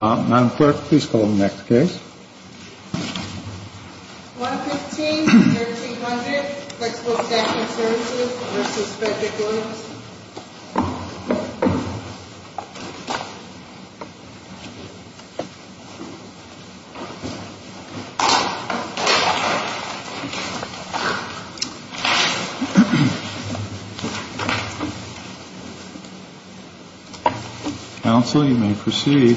Madam Clerk, please call the next case. 115-1300, Flexible Staffing Services v. Frederick Lewis. Counsel, you may proceed.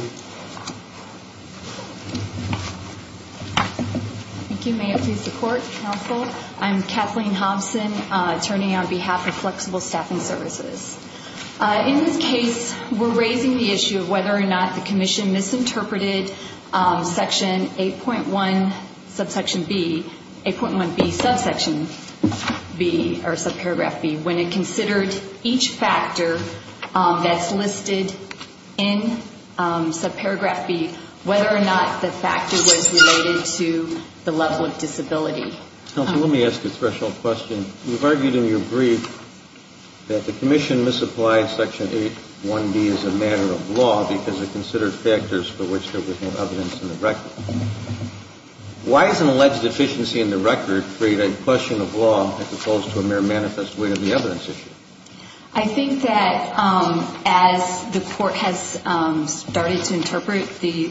Thank you. May it please the Court, Counsel. I'm Kathleen Hobson, attorney on behalf of Flexible Staffing Services. In this case, we're raising the issue of whether or not the Commission misinterpreted Section 8.1, subsection B, 8.1B, subsection B, or subparagraph B, when it considered each factor that's listed in subparagraph B, whether or not the factor was related to the level of disability. Counsel, let me ask a threshold question. You've argued in your brief that the Commission misapplied Section 8.1B as a matter of law because it considered factors for which there was no evidence in the record. Why has an alleged deficiency in the record created a question of law as opposed to a mere manifest way to the evidence issue? I think that as the Court has started to interpret the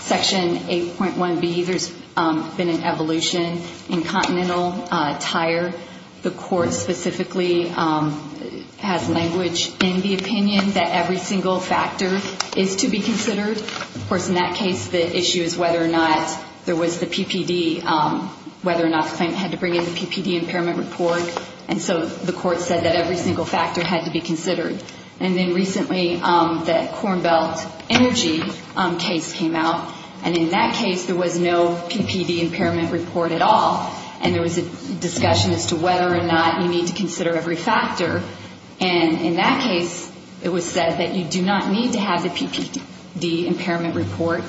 Section 8.1B, there's been an evolution in continental tire. The Court specifically has language in the opinion that every single factor is to be considered. Of course, in that case, the issue is whether or not there was the PPD, whether or not the claimant had to bring in the PPD impairment report. And so the Court said that every single factor had to be considered. And then recently, the Corn Belt Energy case came out. And in that case, there was no PPD impairment report at all. And there was a discussion as to whether or not you need to consider every factor. And in that case, it was said that you do not need to have the PPD impairment report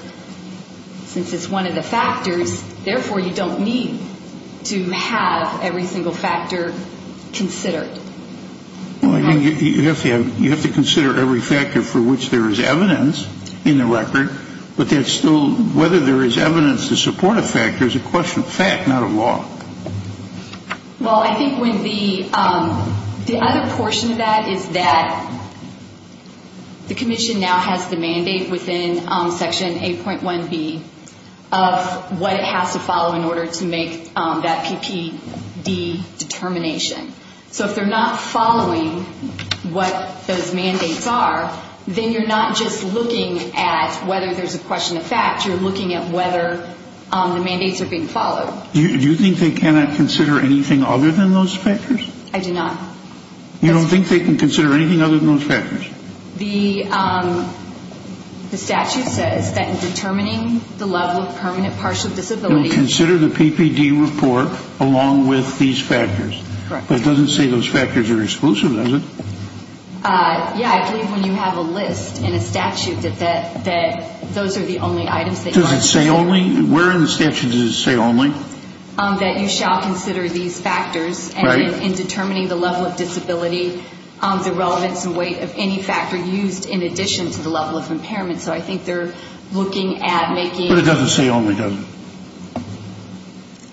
since it's one of the factors. Therefore, you don't need to have every single factor considered. Well, you have to consider every factor for which there is evidence in the record. But whether there is evidence to support a factor is a question of fact, not a law. Well, I think the other portion of that is that the Commission now has the mandate within Section 8.1B of what it has to follow in order to make that PPD determination. So if they're not following what those mandates are, then you're not just looking at whether there's a question of fact. You're looking at whether the mandates are being followed. Do you think they cannot consider anything other than those factors? I do not. You don't think they can consider anything other than those factors? The statute says that in determining the level of permanent partial disability... Consider the PPD report along with these factors. But it doesn't say those factors are exclusive, does it? Yeah, I believe when you have a list in a statute that those are the only items... Does it say only? Where in the statute does it say only? That you shall consider these factors in determining the level of disability, the relevance and weight of any factor used in addition to the level of impairment. So I think they're looking at making... But it doesn't say only, does it?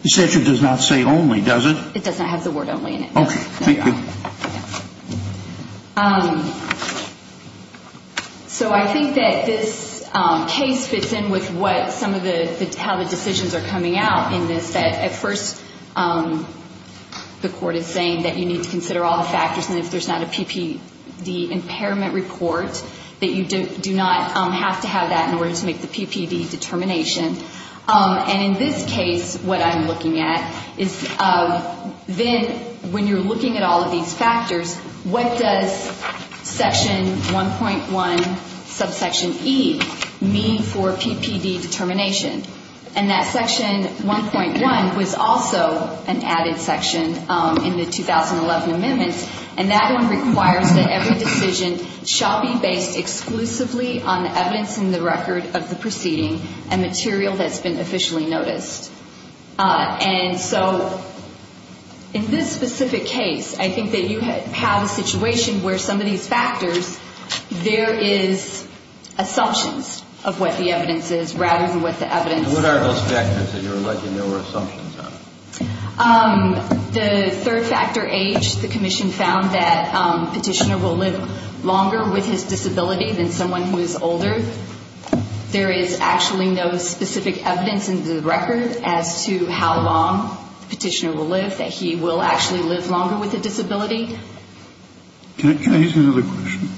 The statute does not say only, does it? It does not have the word only in it. Okay. Thank you. So I think that this case fits in with how the decisions are coming out in this. At first, the court is saying that you need to consider all the factors and if there's not a PPD impairment report, that you do not have to have that in order to make the PPD determination. And in this case, what I'm looking at is then when you're looking at all of these factors, what does section 1.1 subsection E mean for PPD determination? And that section 1.1 was also an added section in the 2011 amendments, and that one requires that every decision shall be based exclusively on evidence in the record of the proceeding and material that's been officially noticed. And so in this specific case, I think that you have a situation where some of these factors, there is assumptions of what the evidence is rather than what the evidence... What are those factors that you're alleging there were assumptions of? The third factor, age. The commission found that the petitioner will live longer with his disability than someone who is older. There is actually no specific evidence in the record as to how long the petitioner will live, that he will actually live longer with a disability. Can I ask another question?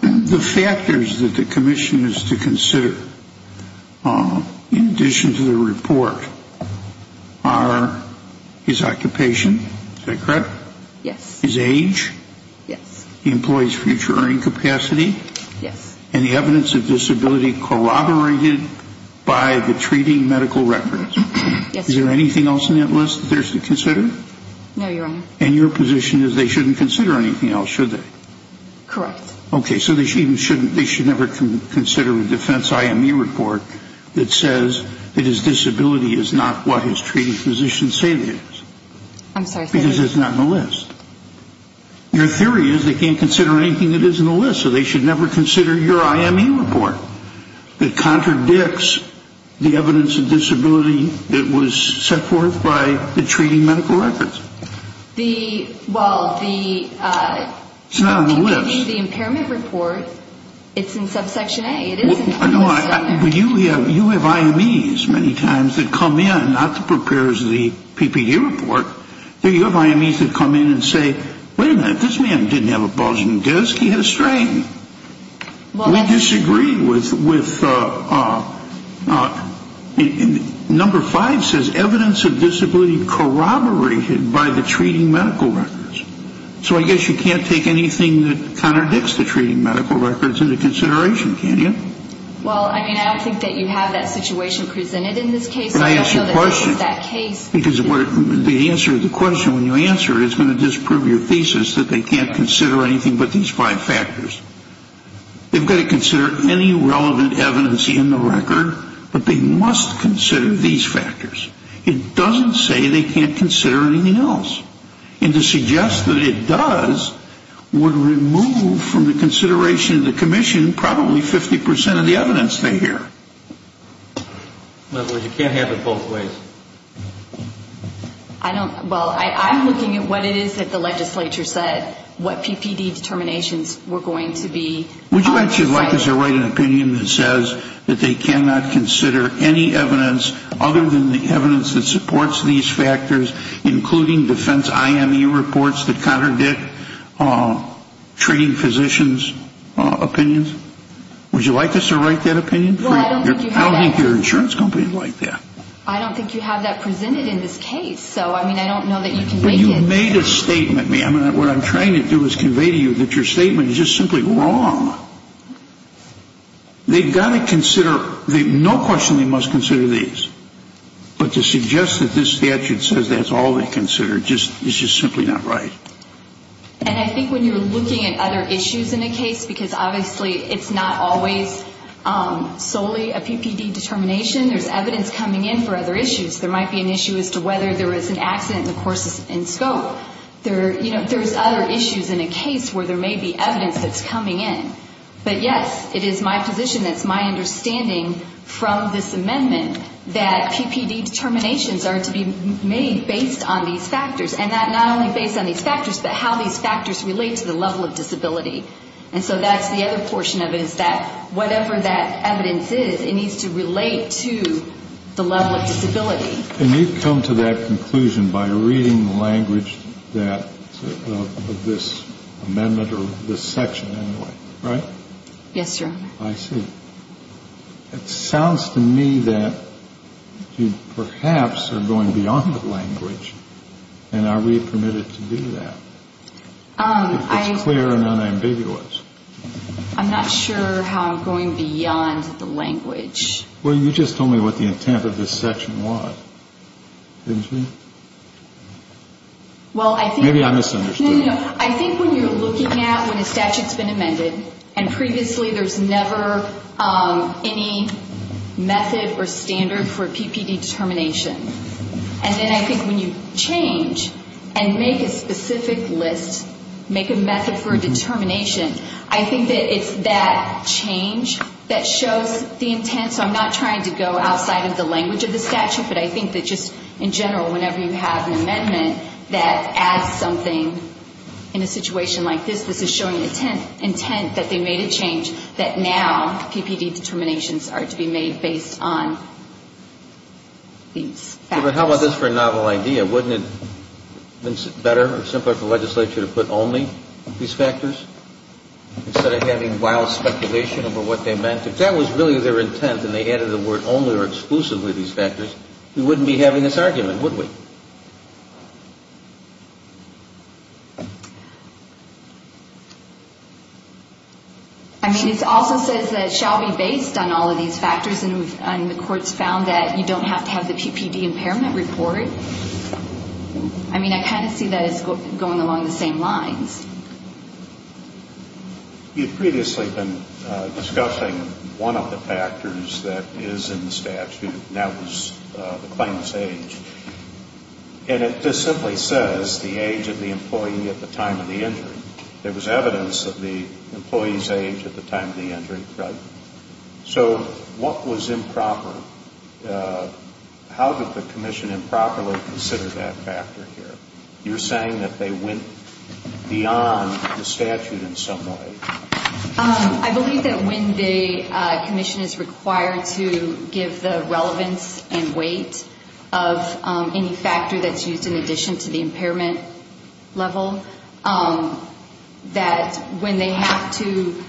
The factors that the commission is to consider in addition to the report are his occupation. Is that correct? Yes. His age. Yes. The employee's future earning capacity. Yes. And the evidence of disability corroborated by the treating medical records. Yes. Is there anything else in that list that they're to consider? No, Your Honor. And your position is they shouldn't consider anything else, should they? Correct. Okay, so they should never consider a defense IME report that says that his disability is not what his treating physicians say it is. I'm sorry. Because it's not in the list. Your theory is they can't consider anything that is in the list, so they should never consider your IME report that contradicts the evidence of disability that was set forth by the treating medical records. Well, the PPD, the impairment report, it's in subsection A. You have IMEs many times that come in, not the preparers of the PPD report. You have IMEs that come in and say, wait a minute, this man didn't have a bulging disc. He had a strain. We disagree with number five says evidence of disability corroborated by the treating medical records. So I guess you can't take anything that contradicts the treating medical records into consideration, can you? Well, I mean, I don't think that you have that situation presented in this case. Can I ask you a question? I don't know that this is that case. Because the answer to the question when you answer it is going to disprove your thesis that they can't consider anything but these five factors. They've got to consider any relevant evidence in the record, but they must consider these factors. It doesn't say they can't consider anything else. And to suggest that it does would remove from the consideration of the commission probably 50% of the evidence they hear. You can't have it both ways. Well, I'm looking at what it is that the legislature said, what PPD determinations were going to be. Would you actually like us to write an opinion that says that they cannot consider any evidence other than the evidence that supports these factors, including defense IME reports that contradict treating physicians' opinions? Would you like us to write that opinion? Well, I don't think you have that. I don't think your insurance company would like that. I don't think you have that presented in this case. So, I mean, I don't know that you can make it. You made a statement, ma'am, and what I'm trying to do is convey to you that your statement is just simply wrong. They've got to consider no question they must consider these. But to suggest that this statute says that's all they consider is just simply not right. And I think when you're looking at other issues in a case, because obviously it's not always solely a PPD determination. There's evidence coming in for other issues. There might be an issue as to whether there was an accident in the course and scope. There's other issues in a case where there may be evidence that's coming in. But, yes, it is my position, it's my understanding from this amendment that PPD determinations are to be made based on these factors. And not only based on these factors, but how these factors relate to the level of disability. And so that's the other portion of it is that whatever that evidence is, it needs to relate to the level of disability. And you've come to that conclusion by reading the language that this amendment or this section anyway, right? Yes, Your Honor. I see. It sounds to me that you perhaps are going beyond the language. And are we permitted to do that? It's clear and unambiguous. I'm not sure how I'm going beyond the language. Well, you just told me what the intent of this section was, didn't you? Maybe I misunderstood. No, no, no. I think when you're looking at when a statute's been amended and previously there's never any method or standard for a PPD determination, and then I think when you change and make a specific list, make a method for a determination, I think that it's that change that shows the intent. So I'm not trying to go outside of the language of the statute, but I think that just in general, whenever you have an amendment that adds something in a situation like this, this is showing intent that they made a change that now PPD determinations are to be made based on these factors. But how about this for a novel idea? Wouldn't it have been better or simpler for legislature to put only these factors instead of having wild speculation over what they meant? If that was really their intent and they added the word only or exclusively these factors, we wouldn't be having this argument, would we? I mean, it also says that it shall be based on all of these factors, and the court's found that you don't have to have the PPD impairment report. I mean, I kind of see that as going along the same lines. You've previously been discussing one of the factors that is in the statute, and that was the claim to sage. And it just simply says the age of the employee at the time of the injury. There was evidence of the employee's age at the time of the injury. Right. So what was improper? How did the commission improperly consider that factor here? You're saying that they went beyond the statute in some way. I believe that when the commission is required to give the relevance and weight of any factor that's used in addition to the impairment level, that when they have to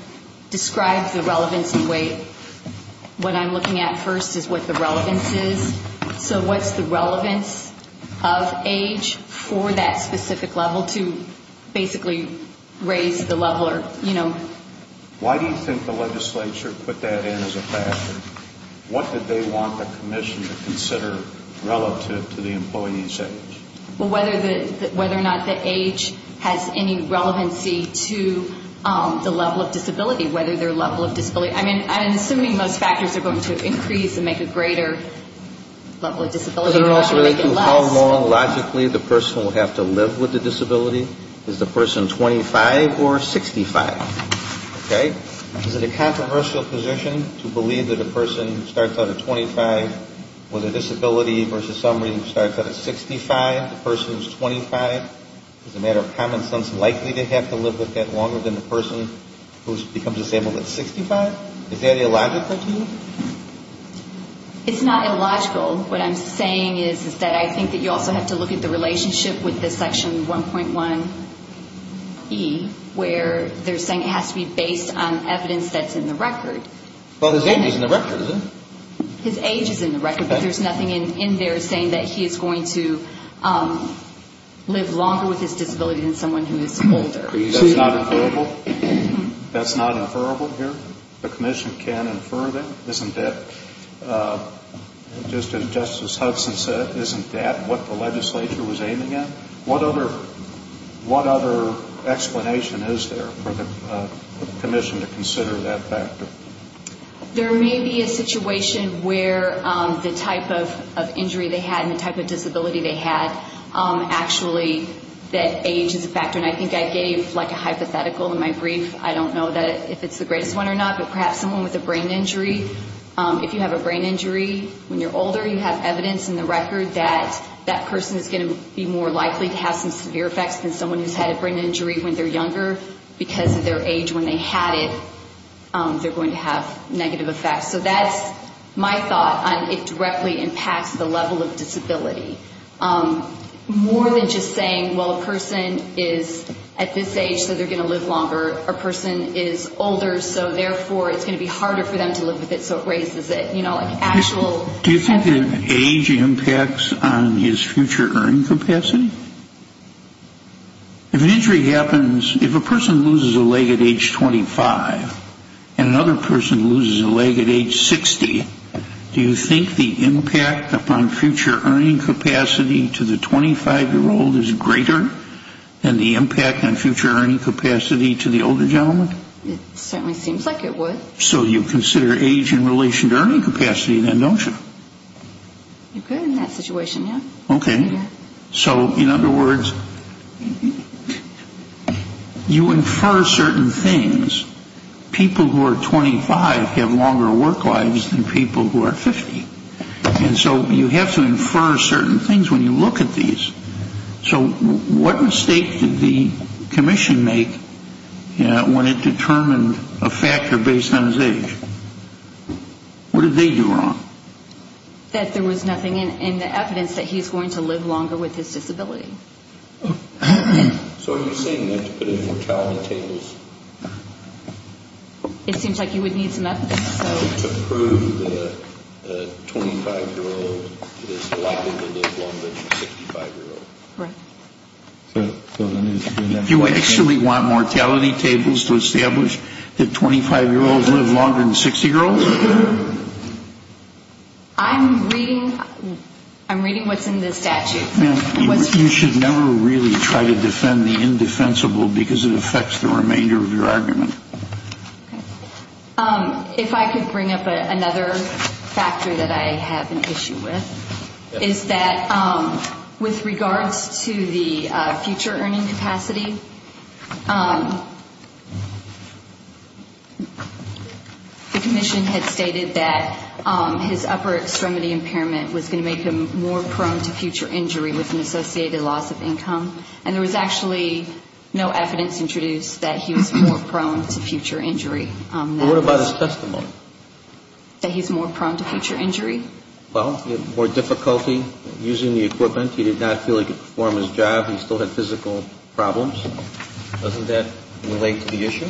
describe the relevance and weight, what I'm looking at first is what the relevance is. So what's the relevance of age for that specific level to basically raise the level or, you know? Why do you think the legislature put that in as a factor? What did they want the commission to consider relative to the employee's age? Well, whether or not the age has any relevancy to the level of disability, whether their level of disability. I mean, I'm assuming most factors are going to increase and make a greater level of disability. Does it also relate to how long logically the person will have to live with the disability? Is the person 25 or 65? Okay. Is it a controversial position to believe that a person who starts out at 25 with a disability versus somebody who starts out at 65, the person who's 25, as a matter of common sense, likely to have to live with that longer than the person who becomes disabled at 65? Is that illogical to you? It's not illogical. What I'm saying is that I think that you also have to look at the relationship with this section 1.1E, where they're saying it has to be based on evidence that's in the record. Well, his age is in the record, isn't it? His age is in the record, but there's nothing in there saying that he is going to live longer with his disability than someone who is older. That's not inferrable? That's not inferrable here? The commission can infer that, isn't it? Just as Justice Hudson said, isn't that what the legislature was aiming at? What other explanation is there for the commission to consider that factor? There may be a situation where the type of injury they had and the type of disability they had, actually, that age is a factor. And I think I gave, like, a hypothetical in my brief. I don't know if it's the greatest one or not, but perhaps someone with a brain injury, if you have a brain injury when you're older, you have evidence in the record that that person is going to be more likely to have some severe effects than someone who's had a brain injury when they're younger because of their age when they had it. They're going to have negative effects. So that's my thought on it directly impacts the level of disability. More than just saying, well, a person is at this age, so they're going to live longer. A person is older, so therefore it's going to be harder for them to live with it, so it raises it. Do you think that age impacts on his future earning capacity? If an injury happens, if a person loses a leg at age 25 and another person loses a leg at age 60, do you think the impact upon future earning capacity to the 25-year-old is greater than the impact on future earning capacity to the older gentleman? It certainly seems like it would. So you consider age in relation to earning capacity then, don't you? You could in that situation, yeah. Okay. So in other words, you infer certain things. People who are 25 have longer work lives than people who are 50. And so you have to infer certain things when you look at these. So what mistake did the commission make when it determined a factor based on his age? What did they do wrong? That there was nothing in the evidence that he's going to live longer with his disability. So are you saying that to put in mortality tables? It seems like you would need some evidence. To prove that a 25-year-old is likely to live longer than a 65-year-old. Right. Do you actually want mortality tables to establish that 25-year-olds live longer than 60-year-olds? I'm reading what's in the statute. You should never really try to defend the indefensible because it affects the remainder of your argument. If I could bring up another factor that I have an issue with, is that with regards to the future earning capacity, the commission had stated that his upper extremity impairment was going to make him more prone to future injury with an associated loss of income. And there was actually no evidence introduced that he was more prone to future injury. What about his testimony? That he's more prone to future injury. Well, he had more difficulty using the equipment. He did not feel he could perform his job. He still had physical problems. Doesn't that relate to the issue?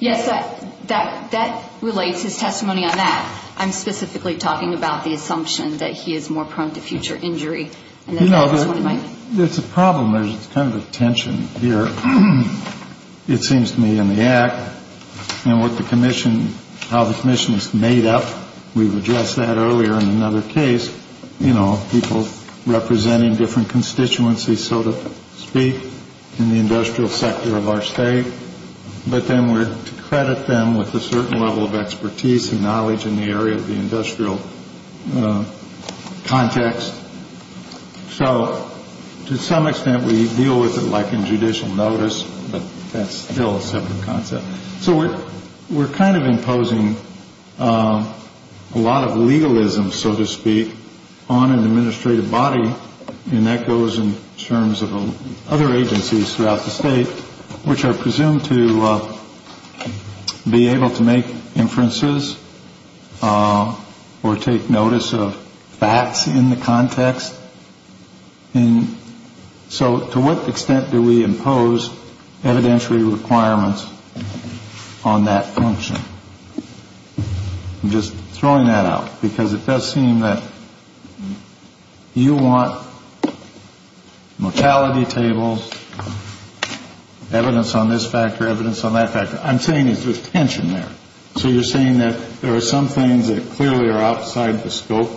Yes, that relates his testimony on that. I'm specifically talking about the assumption that he is more prone to future injury. You know, there's a problem. There's kind of a tension here, it seems to me, in the act. And with the commission, how the commission is made up, we've addressed that earlier in another case. You know, people representing different constituencies, so to speak, in the industrial sector of our state. But then we're to credit them with a certain level of expertise and knowledge in the area of the industrial context. So to some extent we deal with it like in judicial notice, but that's still a separate concept. So we're kind of imposing a lot of legalism, so to speak, on an administrative body, and that goes in terms of other agencies throughout the state, which are presumed to be able to make inferences or take notice of facts in the context. And so to what extent do we impose evidentiary requirements on that function? I'm just throwing that out because it does seem that you want mortality tables, evidence on this factor, evidence on that factor. I'm saying there's tension there. So you're saying that there are some things that clearly are outside the scope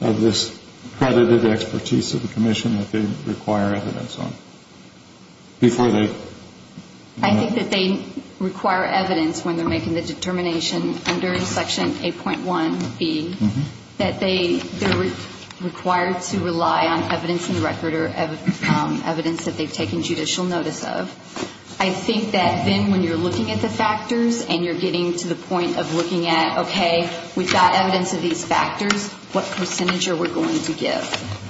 of this credited expertise of the commission that they require evidence on before they do that? I think that they require evidence when they're making the determination under Section 8.1B, that they're required to rely on evidence in the record or evidence that they've taken judicial notice of. I think that then when you're looking at the factors and you're getting to the point of looking at, okay, we've got evidence of these factors, what percentage are we going to give?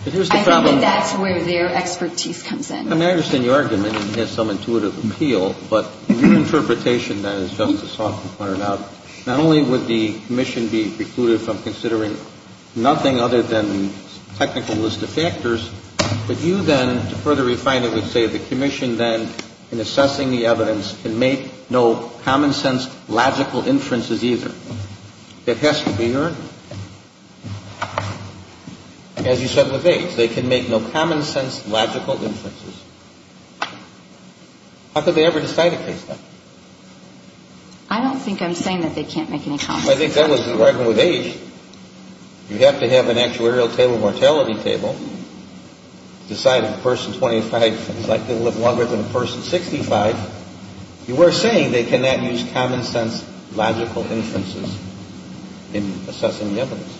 I think that's where their expertise comes in. I mean, I understand your argument, and it has some intuitive appeal, but your interpretation, then, as Justice Hawkins pointed out, not only would the commission be precluded from considering nothing other than the technical list of factors, but you then, to further refine it, would say the commission then, in assessing the evidence, can make no common-sense, logical inferences either. It has to be heard. As you said with age, they can make no common-sense, logical inferences. How could they ever decide a case like that? I don't think I'm saying that they can't make any common-sense inferences. I think that was the argument with age. You have to have an actuarial table, mortality table, decide if a person 25 is likely to live longer than a person 65. You were saying they cannot use common-sense, logical inferences in assessing the evidence.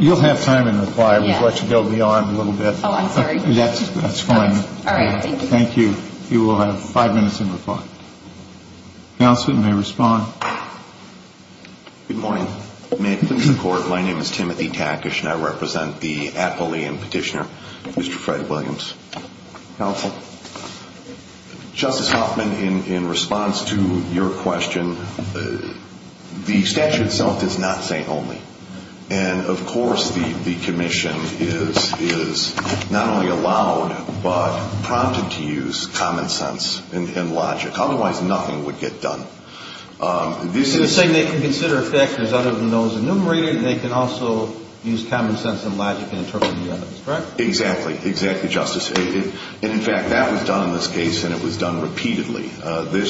You'll have time in the quire. We've let you build me on a little bit. Oh, I'm sorry. That's fine. All right. Thank you. Thank you. You will have five minutes in the quire. Counsel, you may respond. Good morning. May it please the Court, my name is Timothy Tackish, and I represent the Appellee and Petitioner, Mr. Fred Williams. Counsel. Justice Hoffman, in response to your question, the statute itself is not saying only. And, of course, the commission is not only allowed but prompted to use common-sense and logic. Otherwise, nothing would get done. You're saying they can consider factors other than those enumerated, and they can also use common-sense and logic in interpreting the evidence, correct? Exactly. Exactly, Justice. And, in fact, that was done in this case, and it was done repeatedly. There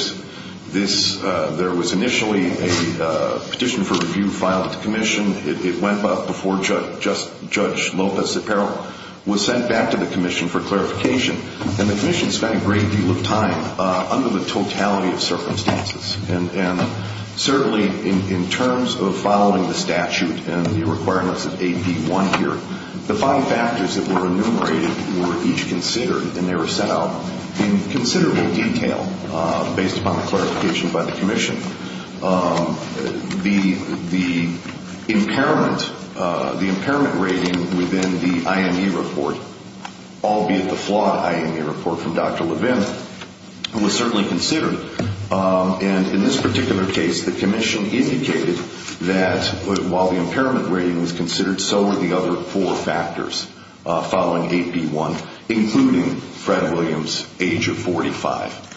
was initially a petition for review filed at the commission. It went before Judge Lopez at peril, was sent back to the commission for clarification, and the commission spent a great deal of time under the totality of circumstances. And certainly in terms of following the statute and the requirements of AB1 here, the five factors that were enumerated were each considered, and they were set out in considerable detail based upon the clarification by the commission. The impairment rating within the IME report, albeit the flawed IME report from Dr. Levin, was certainly considered. And in this particular case, the commission indicated that while the impairment rating was considered, so were the other four factors following AB1, including Fred Williams' age of 45,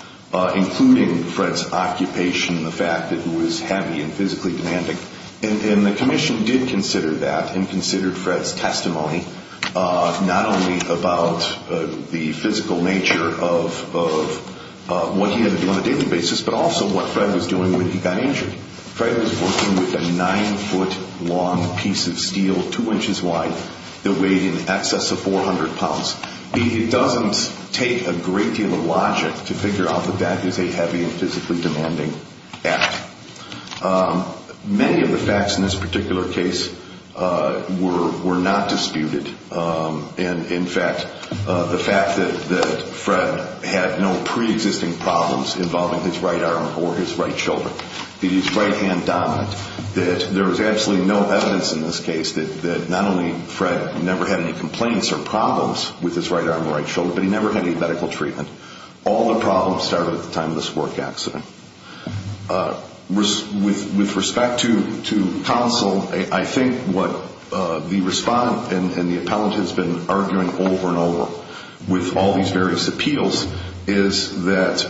including Fred's occupation and the fact that it was heavy and physically demanding. And the commission did consider that and considered Fred's testimony, not only about the physical nature of what he had to do on a daily basis, but also what Fred was doing when he got injured. Fred was working with a 9-foot-long piece of steel, 2 inches wide, that weighed in excess of 400 pounds. It doesn't take a great deal of logic to figure out that that is a heavy and physically demanding act. Many of the facts in this particular case were not disputed. And, in fact, the fact that Fred had no preexisting problems involving his right arm or his right shoulder, that he's right-hand dominant, that there was absolutely no evidence in this case that not only Fred never had any complaints or problems with his right arm or right shoulder, but he never had any medical treatment. All the problems started at the time of this work accident. With respect to counsel, I think what the respondent and the appellant has been arguing over and over, with all these various appeals, is that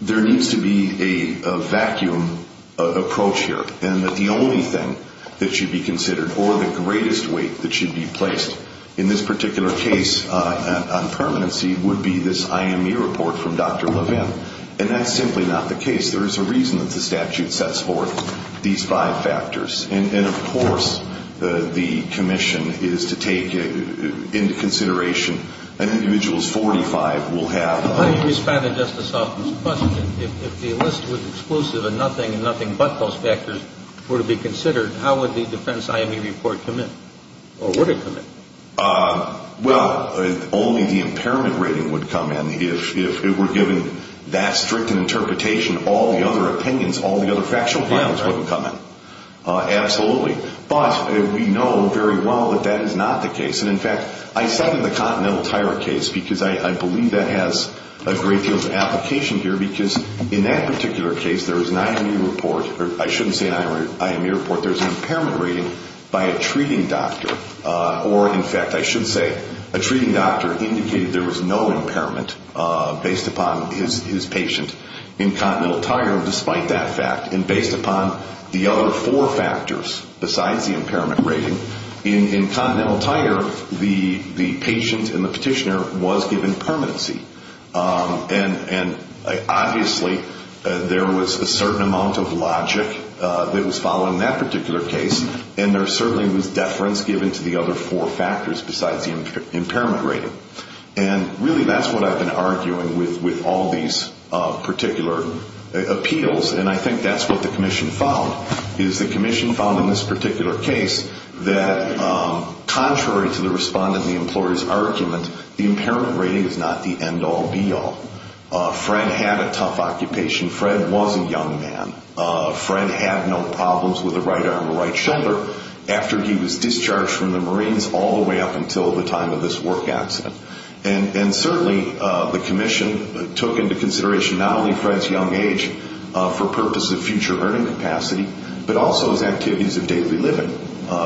there needs to be a vacuum approach here and that the only thing that should be considered or the greatest weight that should be placed in this particular case on permanency would be this IMU report from Dr. Levin. And that's simply not the case. There is a reason that the statute sets forth these five factors. And, of course, the commission is to take into consideration an individual's 45 will have. How do you respond to Justice Altman's question? If the list was exclusive and nothing and nothing but those factors were to be considered, how would the defense IMU report come in? Or would it come in? Well, only the impairment rating would come in. If it were given that strict an interpretation, all the other opinions, all the other factual files wouldn't come in. Absolutely. But we know very well that that is not the case. And, in fact, I cited the Continental Tire case because I believe that has a great deal of application here because in that particular case there is an IMU report. I shouldn't say an IMU report. There's an impairment rating by a treating doctor. Or, in fact, I should say a treating doctor indicated there was no impairment based upon his patient in Continental Tire, despite that fact, and based upon the other four factors besides the impairment rating. In Continental Tire, the patient and the petitioner was given permanency. And, obviously, there was a certain amount of logic that was followed in that particular case, and there certainly was deference given to the other four factors besides the impairment rating. And, really, that's what I've been arguing with all these particular appeals, and I think that's what the commission found, is the commission found in this particular case that, contrary to the respondent and the employer's argument, the impairment rating is not the end-all, be-all. Fred had a tough occupation. Fred was a young man. Fred had no problems with the right arm or right shoulder after he was discharged from the Marines all the way up until the time of this work accident. And, certainly, the commission took into consideration not only Fred's young age for purposes of future earning capacity, but also his activities of daily living.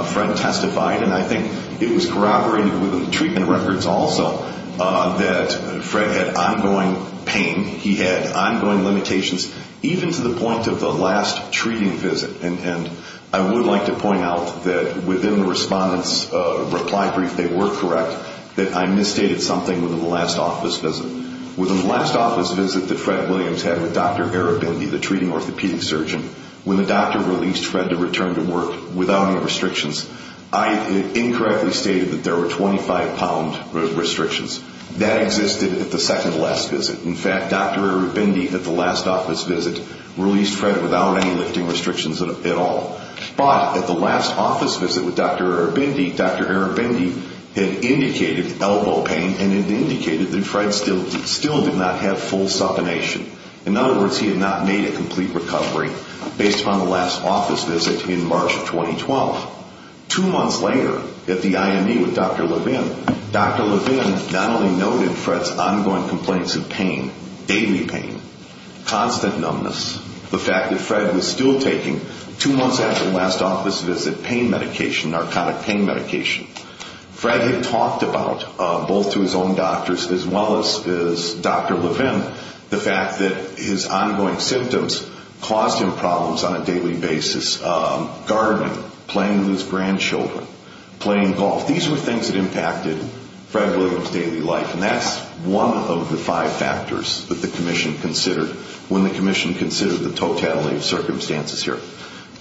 Fred testified, and I think it was corroborated within the treatment records also, that Fred had ongoing pain. He had ongoing limitations, even to the point of the last treating visit. And I would like to point out that, within the respondent's reply brief, they were correct, that I misstated something within the last office visit. Within the last office visit that Fred Williams had with Dr. Arabindi, the treating orthopedic surgeon, when the doctor released Fred to return to work without any restrictions, I incorrectly stated that there were 25-pound restrictions. That existed at the second-to-last visit. In fact, Dr. Arabindi, at the last office visit, released Fred without any lifting restrictions at all. But, at the last office visit with Dr. Arabindi, Dr. Arabindi had indicated elbow pain and had indicated that Fred still did not have full supination. In other words, he had not made a complete recovery, based on the last office visit in March of 2012. Two months later, at the IME with Dr. Levin, Dr. Levin not only noted Fred's ongoing complaints of pain, daily pain, constant numbness, the fact that Fred was still taking, two months after the last office visit, pain medication, narcotic pain medication. Fred had talked about, both to his own doctors as well as Dr. Levin, the fact that his ongoing symptoms caused him problems on a daily basis, gardening, playing with his grandchildren, playing golf. These were things that impacted Fred Williams' daily life. And that's one of the five factors that the Commission considered, when the Commission considered the totality of circumstances here.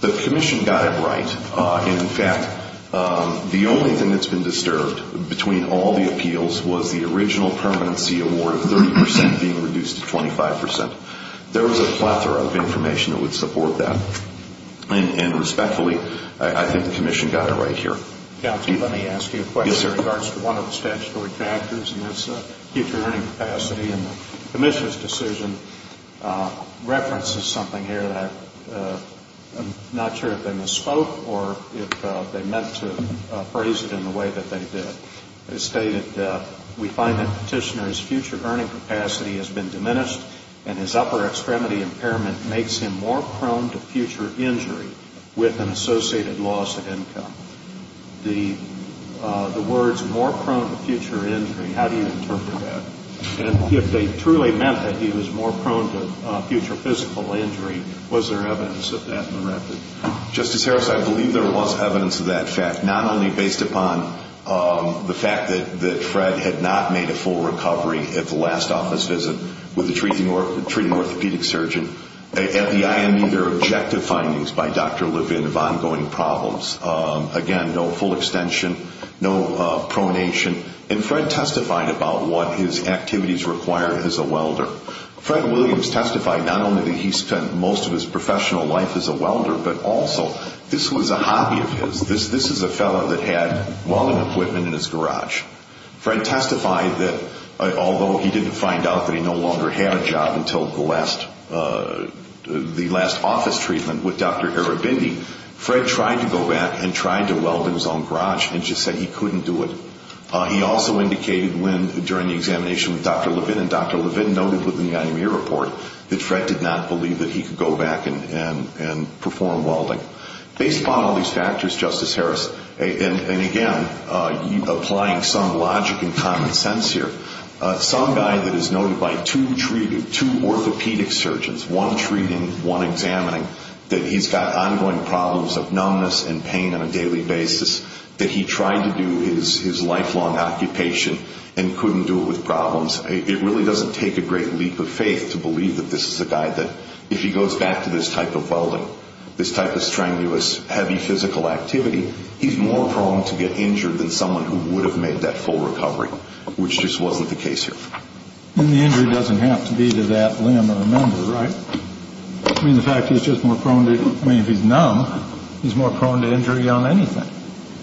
The Commission got it right. In fact, the only thing that's been disturbed, between all the appeals, was the original permanency award of 30 percent being reduced to 25 percent. There was a plethora of information that would support that. And respectfully, I think the Commission got it right here. Counsel, let me ask you a question in regards to one of the statutory factors, and that's future earning capacity. And the Commission's decision references something here that I'm not sure if they misspoke or if they meant to phrase it in the way that they did. It stated, we find that Petitioner's future earning capacity has been diminished and his upper extremity impairment makes him more prone to future injury with an associated loss of income. The words more prone to future injury, how do you interpret that? And if they truly meant that he was more prone to future physical injury, was there evidence of that in the record? Justice Harris, I believe there was evidence of that fact, not only based upon the fact that Fred had not made a full recovery at the last office visit with the treating orthopedic surgeon at the IME. There are objective findings by Dr. Levin of ongoing problems. Again, no full extension, no pronation. And Fred testified about what his activities required as a welder. Fred Williams testified not only that he spent most of his professional life as a welder, but also this was a hobby of his. This is a fellow that had welding equipment in his garage. Fred testified that although he didn't find out that he no longer had a job until the last office treatment with Dr. Arabindi, Fred tried to go back and tried to weld in his own garage and just said he couldn't do it. He also indicated during the examination with Dr. Levin, and Dr. Levin noted within the IME report that Fred did not believe that he could go back and perform welding. Based upon all these factors, Justice Harris, and again applying some logic and common sense here, some guy that is noted by two orthopedic surgeons, one treating, one examining, that he's got ongoing problems of numbness and pain on a daily basis, that he tried to do his lifelong occupation and couldn't do it with problems, it really doesn't take a great leap of faith to believe that this is a guy that, if he goes back to this type of welding, this type of strenuous, heavy physical activity, he's more prone to get injured than someone who would have made that full recovery, which just wasn't the case here. And the injury doesn't have to be to that limb or member, right? I mean, the fact that he's just more prone to, I mean, if he's numb, he's more prone to injury on anything,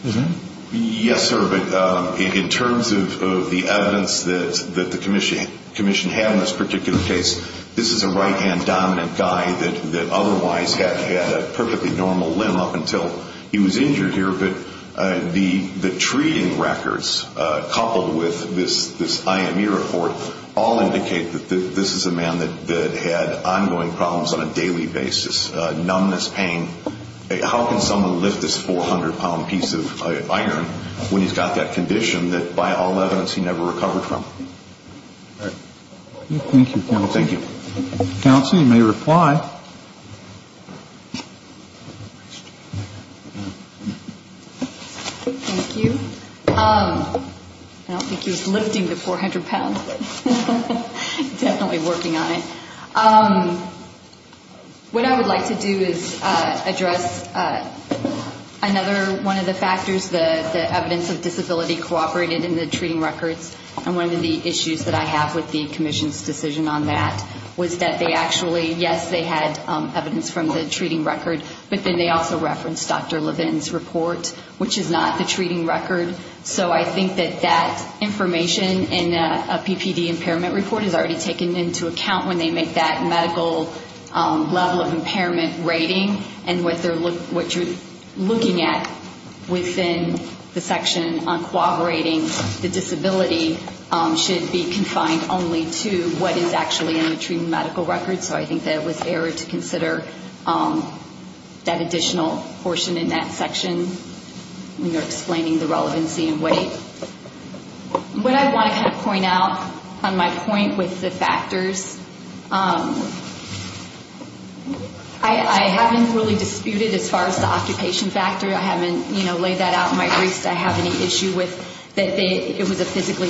isn't he? Yes, sir, but in terms of the evidence that the commission had in this particular case, this is a right-hand dominant guy that otherwise had a perfectly normal limb up until he was injured here, but the treating records, coupled with this IME report, all indicate that this is a man that had ongoing problems on a daily basis, numbness, pain. How can someone lift this 400-pound piece of iron when he's got that condition that, by all evidence, he never recovered from? All right. Thank you, counsel. Thank you. Counsel, you may reply. Thank you. I don't think he was lifting the 400 pounds, but definitely working on it. What I would like to do is address another one of the factors, the evidence of disability cooperated in the treating records, and one of the issues that I have with the commission's decision on that was that they actually, yes, they had evidence from the treating record, but then they also referenced Dr. Levin's report, which is not the treating record. So I think that that information in a PPD impairment report is already taken into account when they make that medical level of impairment rating and what you're looking at within the section on cooperating, the disability should be confined only to what is actually in the treating medical record. So I think that it was error to consider that additional portion in that section when you're explaining the relevancy and weight. What I want to kind of point out on my point with the factors, I haven't really disputed as far as the occupation factor. I haven't laid that out in my briefs that I have any issue with, that it was a physically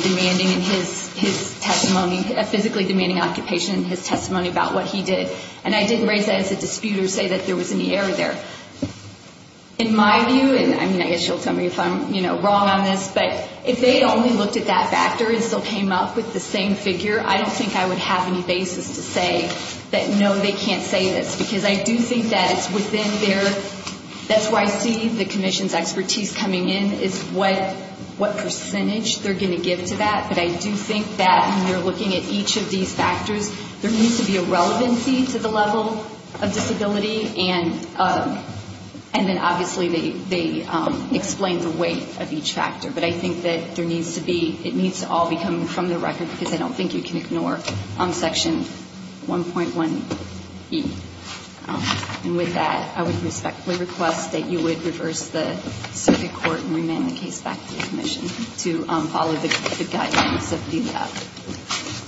demanding occupation in his testimony about what he did. And I didn't raise that as a dispute or say that there was any error there. In my view, and I guess you'll tell me if I'm wrong on this, but if they only looked at that factor and still came up with the same figure, I don't think I would have any basis to say that, no, they can't say this, because I do think that it's within their, that's where I see the commission's expertise coming in, is what percentage they're going to give to that. But I do think that when you're looking at each of these factors, there needs to be a relevancy to the level of disability, and then obviously they explain the weight of each factor. But I think that there needs to be, it needs to all be coming from the record, because I don't think you can ignore Section 1.1e. And with that, I would respectfully request that you would reverse the circuit court and remand the case back to the commission to follow the guidance of the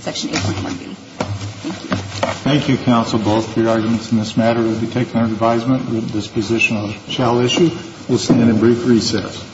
Section 8.1b. Thank you. Thank you, counsel, both for your arguments in this matter. We'll be taking our advisement. This position shall issue. We'll stand in brief recess.